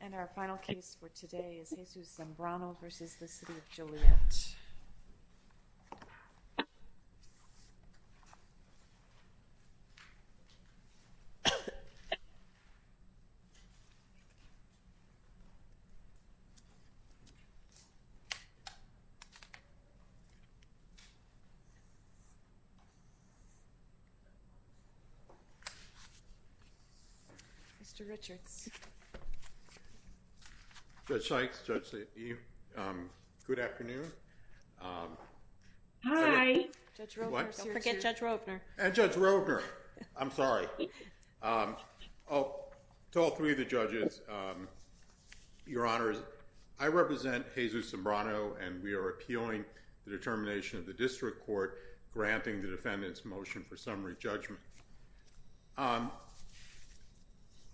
And our final case for today is Jesus Zambrano v. City of Joliet. Mr. Richards. Judge Sykes, Judge Leahy. Good afternoon. Hi. Judge Roepner. Don't forget Judge Roepner. And Judge Roepner. I'm sorry. To all three of the judges, your honors, I represent Jesus Zambrano and we are appealing the determination of the district court granting the defendant's motion for summary judgment.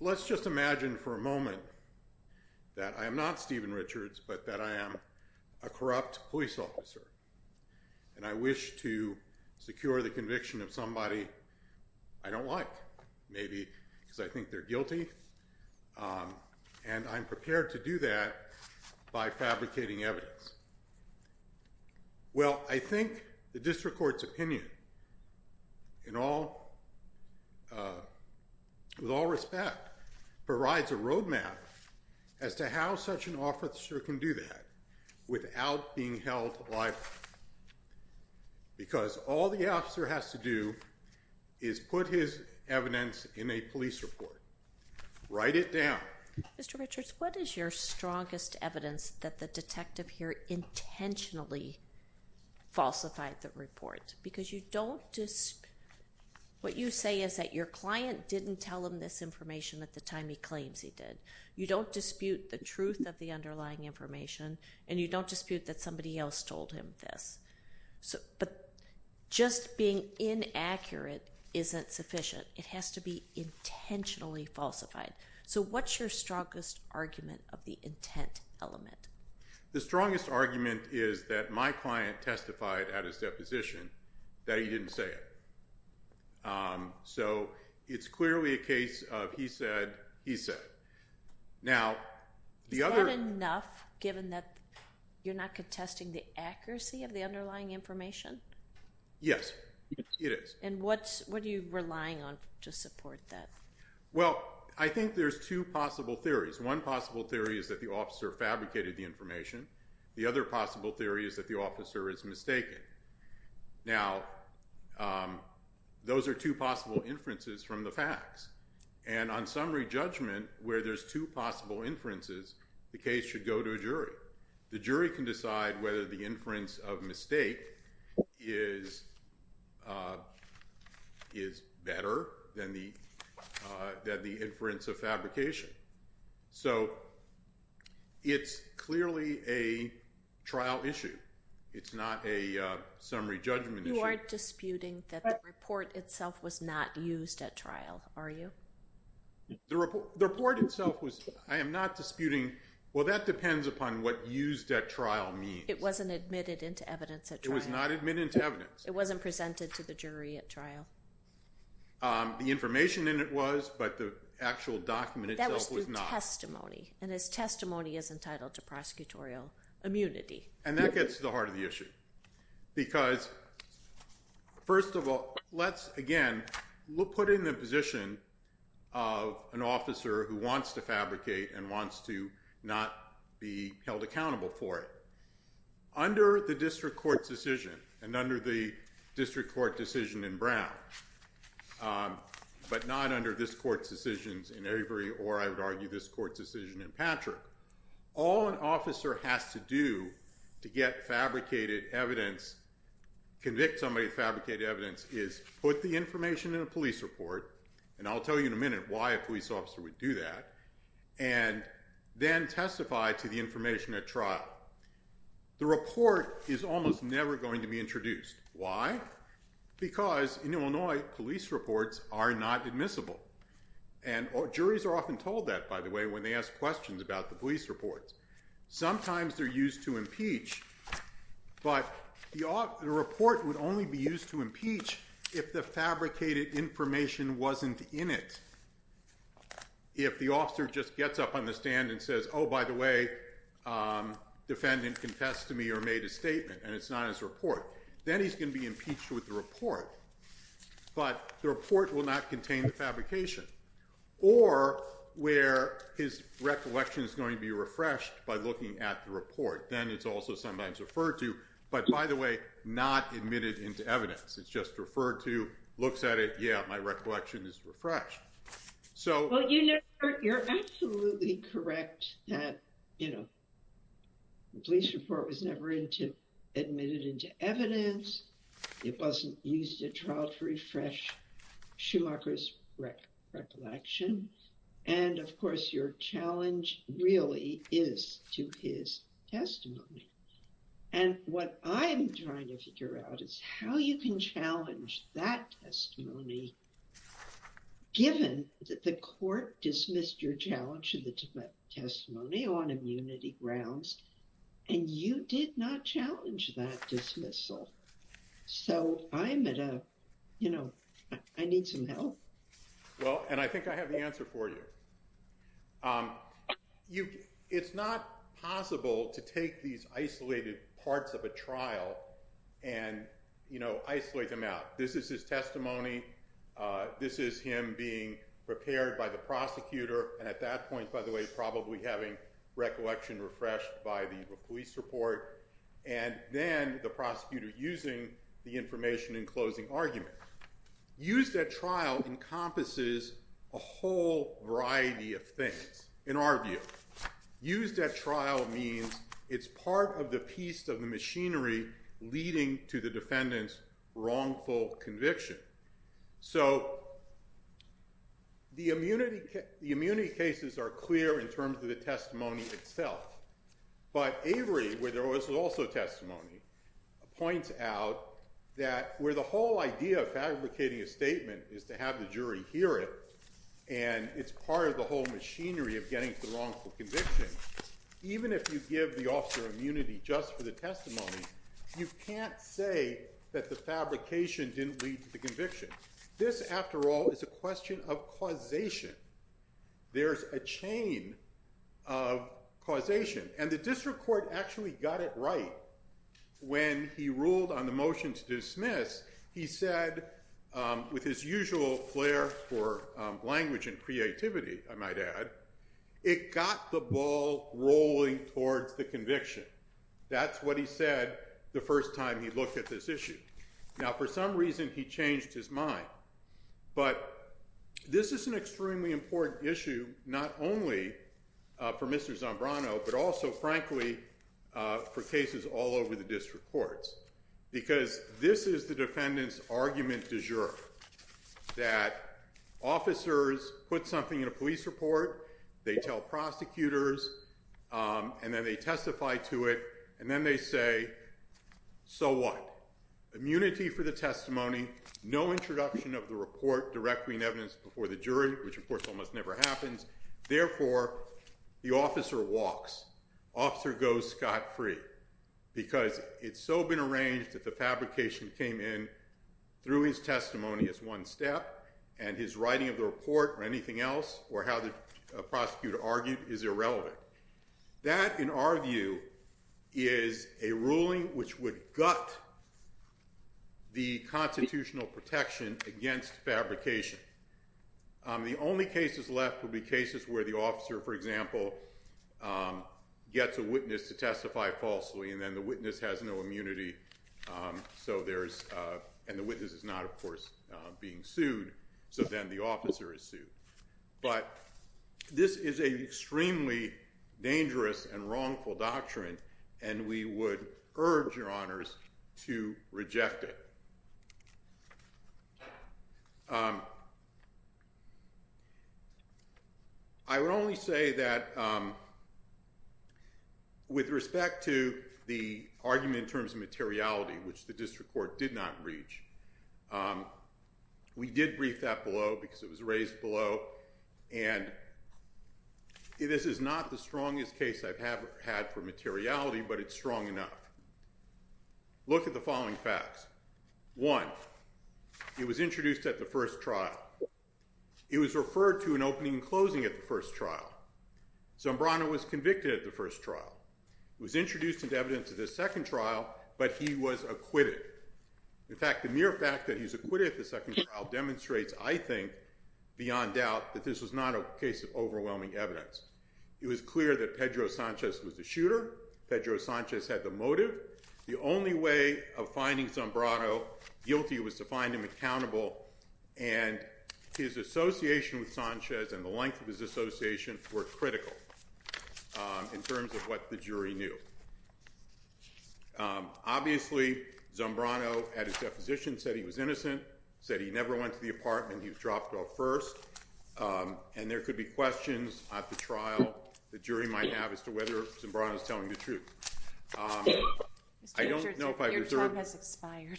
Let's just imagine for a moment that I am not Stephen Richards, but that I am a corrupt police officer. And I wish to secure the conviction of somebody I don't like, maybe because I think they're And I'm prepared to do that by fabricating evidence. Well, I think the district court's opinion in all, with all respect, provides a roadmap as to how such an officer can do that without being held liable. Because all the officer has to do is put his evidence in a police report. Write it down. Mr. Richards, what is your strongest evidence that the detective here intentionally falsified the report? Because you don't just, what you say is that your client didn't tell him this information at the time he claims he did. You don't dispute the truth of the underlying information. And you don't dispute that somebody else told him this. But just being inaccurate isn't sufficient. It has to be intentionally falsified. So, what's your strongest argument of the intent element? The strongest argument is that my client testified at his deposition that he didn't say it. So, it's clearly a case of he said, he said. Is that enough, given that you're not contesting the accuracy of the underlying information? Yes, it is. And what are you relying on to support that? Well, I think there's two possible theories. One possible theory is that the officer fabricated the information. The other possible theory is that the officer is mistaken. Now, those are two possible inferences from the facts. And on summary judgment, where there's two possible inferences, the case should go to a jury. The jury can decide whether the inference of mistake is better than the inference of fabrication. So, it's clearly a trial issue. It's not a summary judgment issue. You aren't disputing that the report itself was not used at trial, are you? The report itself was, I am not disputing. Well, that depends upon what used at trial means. It wasn't admitted into evidence at trial. It was not admitted into evidence. It wasn't presented to the jury at trial. The information in it was, but the actual document itself was not. And his testimony is entitled to prosecutorial immunity. And that gets to the heart of the issue. Because, first of all, let's, again, we'll put in the position of an officer who wants to fabricate and wants to not be held accountable for it. Under the district court's decision, and under the district court decision in Brown, but not under this court's decisions in Avery, or I would argue this court's decision in Patrick, all an officer has to do to get fabricated evidence, convict somebody of fabricated evidence, is put the information in a police report, and I'll tell you in a minute why a police officer would do that, and then testify to the information at trial. The report is almost never going to be introduced. Why? Because, in Illinois, police reports are not admissible. And juries are often told that, by the way, when they ask questions about the police reports. Sometimes they're used to impeach, but the report would only be used to impeach if the fabricated information wasn't in it. If the officer just gets up on the stand and says, oh, by the way, defendant confessed to me or made a statement, and it's not in his report, then he's going to be impeached with the report. But the report will not contain the fabrication. Or where his recollection is going to be refreshed by looking at the report, then it's also sometimes referred to, but, by the way, not admitted into evidence. It's just referred to, looks at it, yeah, my recollection is refreshed. Well, you're absolutely correct that, you know, the police report was never admitted into evidence. It wasn't used at trial to refresh Schumacher's recollection. And, of course, your challenge really is to his testimony. And what I'm trying to figure out is how you can challenge that testimony, given that the court dismissed your challenge to the testimony on immunity grounds, and you did not challenge that dismissal. So I'm at a, you know, I need some help. Well, and I think I have the answer for you. It's not possible to take these isolated parts of a trial and, you know, isolate them out. This is his testimony. This is him being prepared by the prosecutor. And at that point, by the way, probably having recollection refreshed by the police report, and then the prosecutor using the information in closing argument. Used at trial encompasses a whole variety of things, in our view. Used at trial means it's part of the piece of the machinery leading to the defendant's wrongful conviction. So the immunity cases are clear in terms of the testimony itself. But Avery, where there was also testimony, points out that where the whole idea of fabricating a statement is to have the jury hear it, and it's part of the whole machinery of getting to the wrongful conviction, even if you give the officer immunity just for the testimony, you can't say that the fabrication didn't lead to the conviction. This, after all, is a question of causation. There's a chain of causation. And the district court actually got it right when he ruled on the motion to dismiss. He said, with his usual flair for language and creativity, I might add, it got the ball rolling towards the conviction. That's what he said the first time he looked at this issue. Now, for some reason, he changed his mind. But this is an extremely important issue, not only for Mr. Zambrano, but also, frankly, for cases all over the district courts, because this is the defendant's argument du jour, that officers put something in a police report, they tell prosecutors, and then they testify to it, and then they say, so what? Immunity for the testimony, no introduction of the report directly in evidence before the jury, which, of course, almost never happens. Therefore, the officer walks. Officer goes scot-free, because it's so been arranged that the fabrication came in through his testimony as one step, and his writing of the report or anything else or how the prosecutor argued is irrelevant. That, in our view, is a ruling which would gut the constitutional protection against fabrication. The only cases left would be cases where the officer, for example, gets a witness to testify falsely, and then the witness has no immunity, and the witness is not, of course, being sued. So then the officer is sued. But this is an extremely dangerous and wrongful doctrine, and we would urge your honors to reject it. I would only say that with respect to the argument in terms of materiality, which the district court did not reach, we did brief that below because it was raised below, and this is not the strongest case I've had for materiality, but it's strong enough. Look at the following facts. One, he was introduced at the first trial. He was referred to in opening and closing at the first trial. Zambrano was convicted at the first trial. He was introduced into evidence at the second trial, but he was acquitted. In fact, the mere fact that he's acquitted at the second trial demonstrates, I think, beyond doubt, that this was not a case of overwhelming evidence. It was clear that Pedro Sanchez was the shooter. Pedro Sanchez had the motive. The only way of finding Zambrano guilty was to find him accountable, and his association with Sanchez and the length of his association were critical in terms of what the jury knew. Obviously, Zambrano, at his deposition, said he was innocent, said he never went to the apartment, he was dropped off first, and there could be questions at the trial the jury might have as to whether Zambrano is telling the truth. I don't know if I've returned. Your time has expired.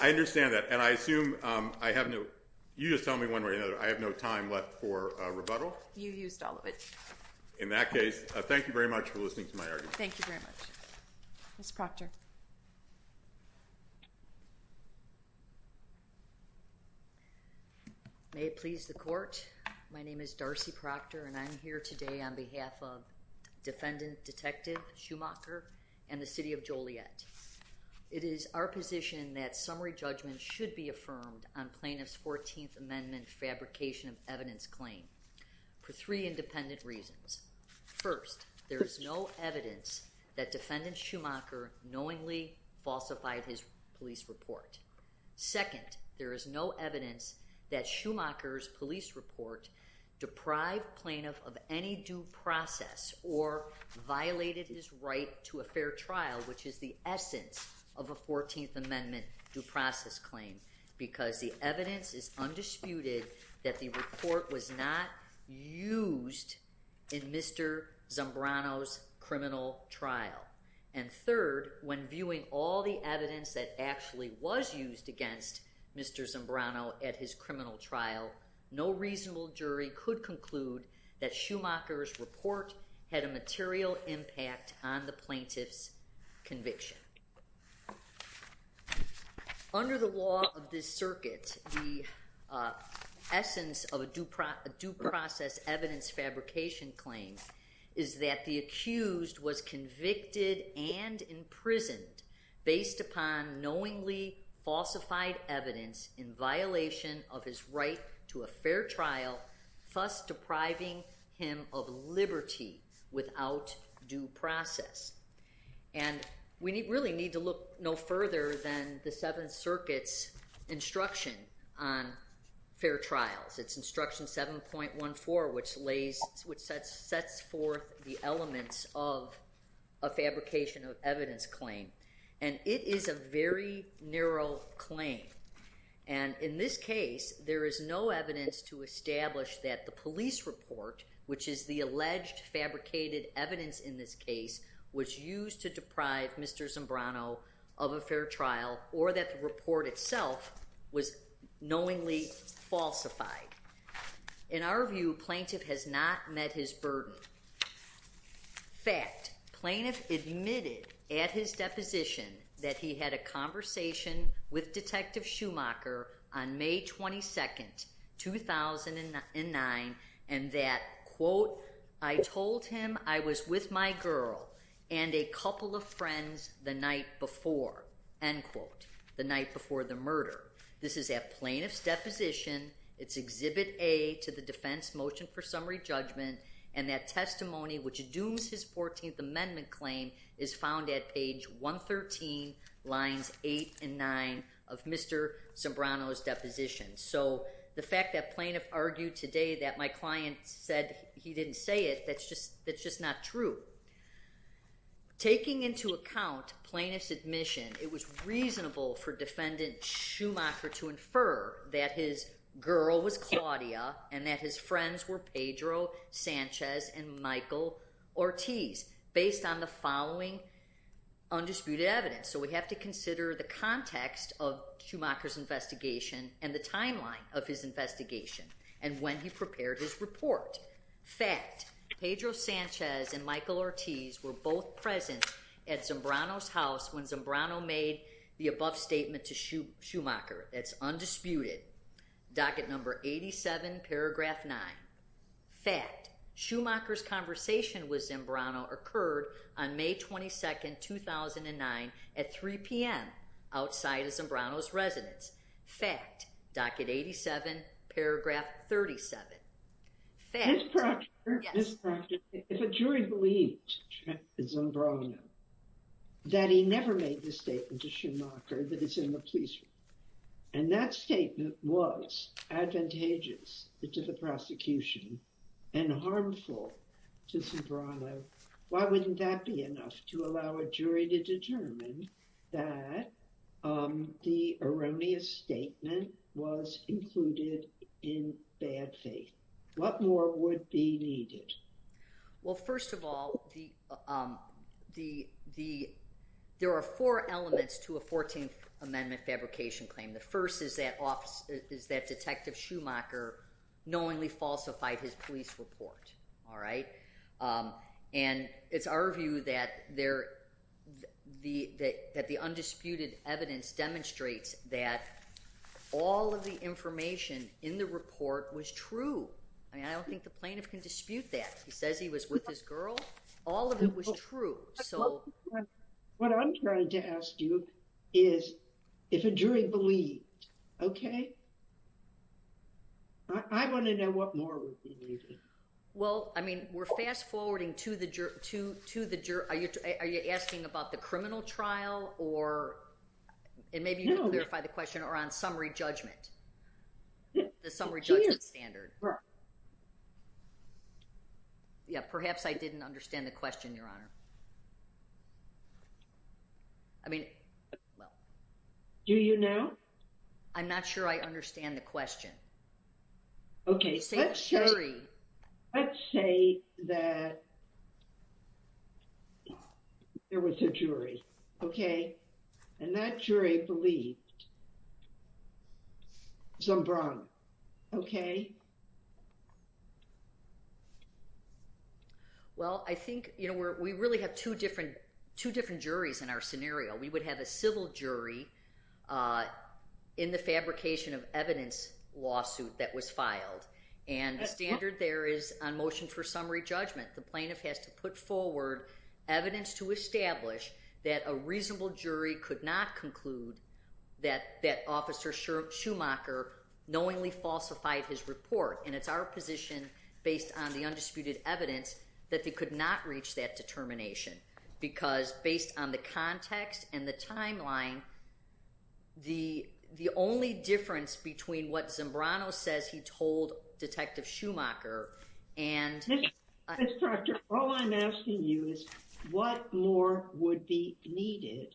I understand that, and I assume I have no – you just tell me one way or another – I have no time left for rebuttal. You used all of it. In that case, thank you very much for listening to my argument. Thank you very much. Ms. Proctor. May it please the court. My name is Darcy Proctor, and I'm here today on behalf of Defendant Detective Schumacher and the City of Joliet. It is our position that summary judgment should be affirmed on plaintiff's 14th Amendment fabrication of evidence claim for three independent reasons. First, there is no evidence that Defendant Schumacher knowingly falsified his police report. Second, there is no evidence that Schumacher's police report deprived plaintiff of any due process or violated his right to a fair trial, which is the essence of a 14th Amendment due process claim, because the evidence is undisputed that the report was not used in Mr. Zambrano's criminal trial. And third, when viewing all the evidence that actually was used against Mr. Zambrano at his criminal trial, no reasonable jury could conclude that Schumacher's report had a material impact on the plaintiff's conviction. Under the law of this circuit, the essence of a due process evidence fabrication claim is that the accused was convicted and imprisoned based upon knowingly falsified evidence in violation of his right to a fair trial, thus depriving him of liberty without due process. And we really need to look no further than the Seventh Circuit's instruction on fair trials. It's instruction 7.14, which sets forth the elements of a fabrication of evidence claim. And it is a very narrow claim. And in this case, there is no evidence to establish that the police report, which is the alleged fabricated evidence in this case, was used to deprive Mr. Zambrano of a fair trial, or that the report itself was knowingly falsified. In our view, plaintiff has not met his burden. Fact, plaintiff admitted at his deposition that he had a conversation with Detective Schumacher on May 22, 2009, and that, quote, I told him I was with my girl and a couple of friends the night before. End quote. The night before the murder. This is at plaintiff's deposition. It's Exhibit A to the Defense Motion for Summary Judgment. And that testimony, which dooms his 14th Amendment claim, is found at page 113, lines 8 and 9 of Mr. Zambrano's deposition. So the fact that plaintiff argued today that my client said he didn't say it, that's just not true. Taking into account plaintiff's admission, it was reasonable for Defendant Schumacher to infer that his girl was Claudia and that his friends were Pedro Sanchez and Michael Ortiz, based on the following undisputed evidence. So we have to consider the context of Schumacher's investigation and the timeline of his investigation and when he prepared his report. Fact, Pedro Sanchez and Michael Ortiz were both present at Zambrano's house when Zambrano made the above statement to Schumacher. That's undisputed. Docket number 87, paragraph 9. Fact, Schumacher's conversation with Zambrano occurred on May 22, 2009, at 3 p.m., outside of Zambrano's residence. Fact, docket 87, paragraph 37. Ms. Proctor, Ms. Proctor, if a jury believed in Zambrano, that he never made the statement to Schumacher that he's in the police room, and that statement was advantageous to the prosecution and harmful to Zambrano, why wouldn't that be enough to allow a jury to determine that the erroneous statement was included in bad faith? What more would be needed? Well, first of all, there are four elements to a 14th Amendment fabrication claim. The first is that Detective Schumacher knowingly falsified his police report. And it's our view that the undisputed evidence demonstrates that all of the information in the report was true. I mean, I don't think the plaintiff can dispute that. He says he was with his girl. All of it was true. What I'm trying to ask you is if a jury believed, okay? I want to know what more would be needed. Well, I mean, we're fast-forwarding to the jury. Are you asking about the criminal trial, or maybe you can clarify the question, or on summary judgment? The summary judgment standard. Yeah, perhaps I didn't understand the question, Your Honor. I mean, well. Do you now? I'm not sure I understand the question. Okay, let's say that there was a jury, okay? And that jury believed Zombrano, okay? Well, I think, you know, we really have two different juries in our scenario. We would have a civil jury in the fabrication of evidence lawsuit that was filed. And the standard there is on motion for summary judgment. The plaintiff has to put forward evidence to establish that a reasonable jury could not conclude that Officer Schumacher knowingly falsified his report. And it's our position, based on the undisputed evidence, that they could not reach that determination. Because based on the context and the timeline, the only difference between what Zombrano says he told Detective Schumacher and— Ms. Proctor, all I'm asking you is what more would be needed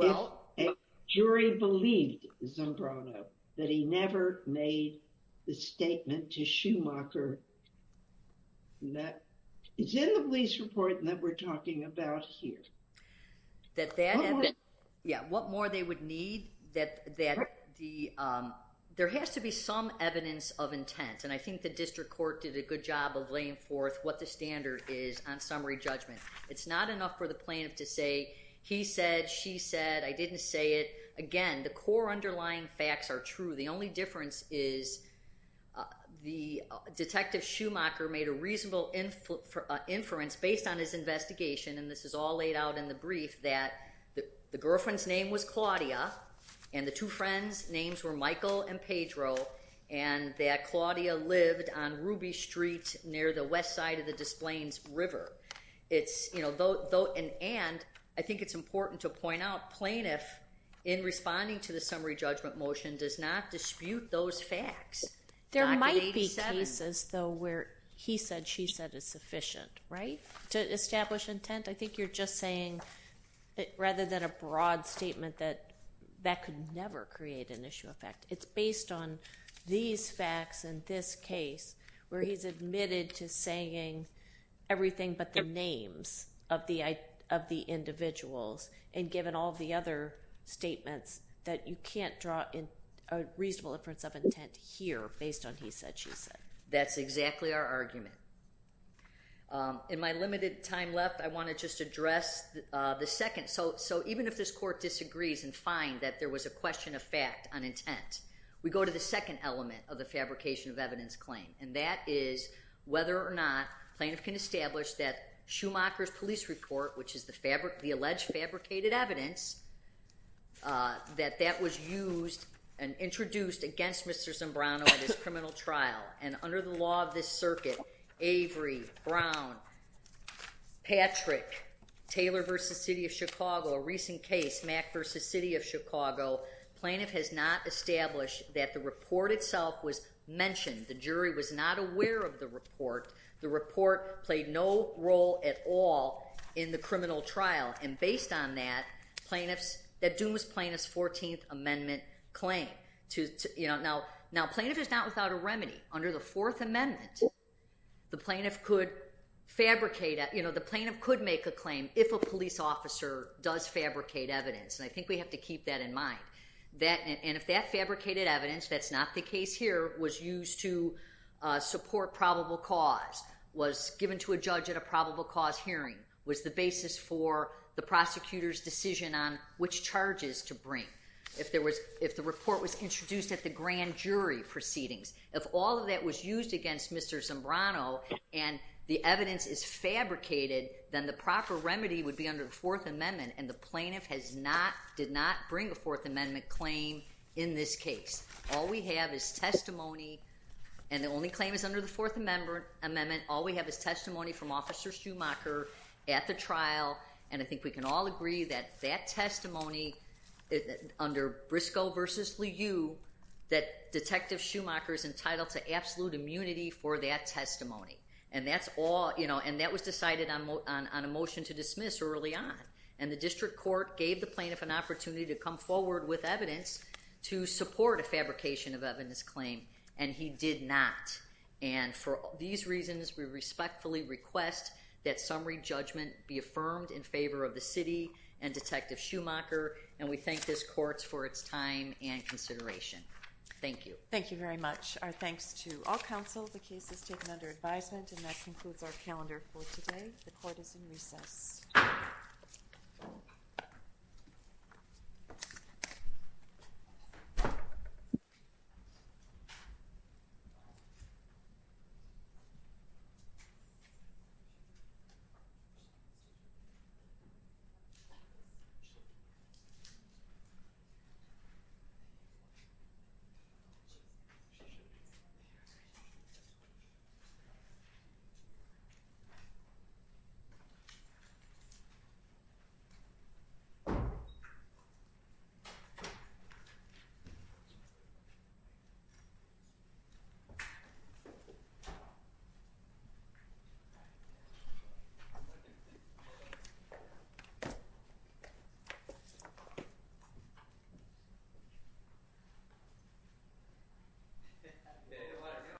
if a jury believed Zombrano, that he never made the statement to Schumacher that it's in the police report that we're talking about here. Yeah, what more they would need, that there has to be some evidence of intent. And I think the district court did a good job of laying forth what the standard is on summary judgment. It's not enough for the plaintiff to say, he said, she said, I didn't say it. Again, the core underlying facts are true. The only difference is the Detective Schumacher made a reasonable inference based on his investigation, and this is all laid out in the brief, that the girlfriend's name was Claudia, and the two friends' names were Michael and Pedro, and that Claudia lived on Ruby Street near the west side of the Des Plaines River. And I think it's important to point out, plaintiff, in responding to the summary judgment motion, does not dispute those facts. There might be cases, though, where he said, she said is sufficient, right, to establish intent? I think you're just saying, rather than a broad statement, that that could never create an issue of fact. It's based on these facts and this case, where he's admitted to saying everything but the names of the individuals, and given all the other statements, that you can't draw a reasonable inference of intent here, based on he said, she said. That's exactly our argument. In my limited time left, I want to just address the second. So even if this court disagrees and finds that there was a question of fact on intent, we go to the second element of the fabrication of evidence claim, and that is whether or not plaintiff can establish that Schumacher's police report, which is the alleged fabricated evidence, that that was used and introduced against Mr. Zimbrano at his criminal trial, and under the law of this circuit, Avery, Brown, Patrick, Taylor v. City of Chicago, a recent case, Mack v. City of Chicago, plaintiff has not established that the report itself was mentioned. The jury was not aware of the report. The report played no role at all in the criminal trial, and based on that, that doomed plaintiff's 14th Amendment claim. Now, plaintiff is not without a remedy. Under the Fourth Amendment, the plaintiff could fabricate, the plaintiff could make a claim if a police officer does fabricate evidence, and I think we have to keep that in mind, and if that fabricated evidence, that's not the case here, was used to support probable cause, was given to a judge at a probable cause hearing, was the basis for the prosecutor's decision on which charges to bring. If the report was introduced at the grand jury proceedings, if all of that was used against Mr. Zimbrano, and the evidence is fabricated, then the proper remedy would be under the Fourth Amendment, and the plaintiff did not bring a Fourth Amendment claim in this case. All we have is testimony, and the only claim is under the Fourth Amendment. All we have is testimony from Officer Schumacher at the trial, and I think we can all agree that that testimony under Briscoe v. Liu, that Detective Schumacher is entitled to absolute immunity for that testimony, and that was decided on a motion to dismiss early on, and the district court gave the plaintiff an opportunity to come forward with evidence to support a fabrication of evidence claim, and he did not, and for these reasons, we respectfully request that summary judgment be affirmed in favor of the city and Detective Schumacher, and we thank this court for its time and consideration. Thank you. Thank you very much. Our thanks to all counsel. The case is taken under advisement, and that concludes our calendar for today. The court is in recess. Thank you. Thank you.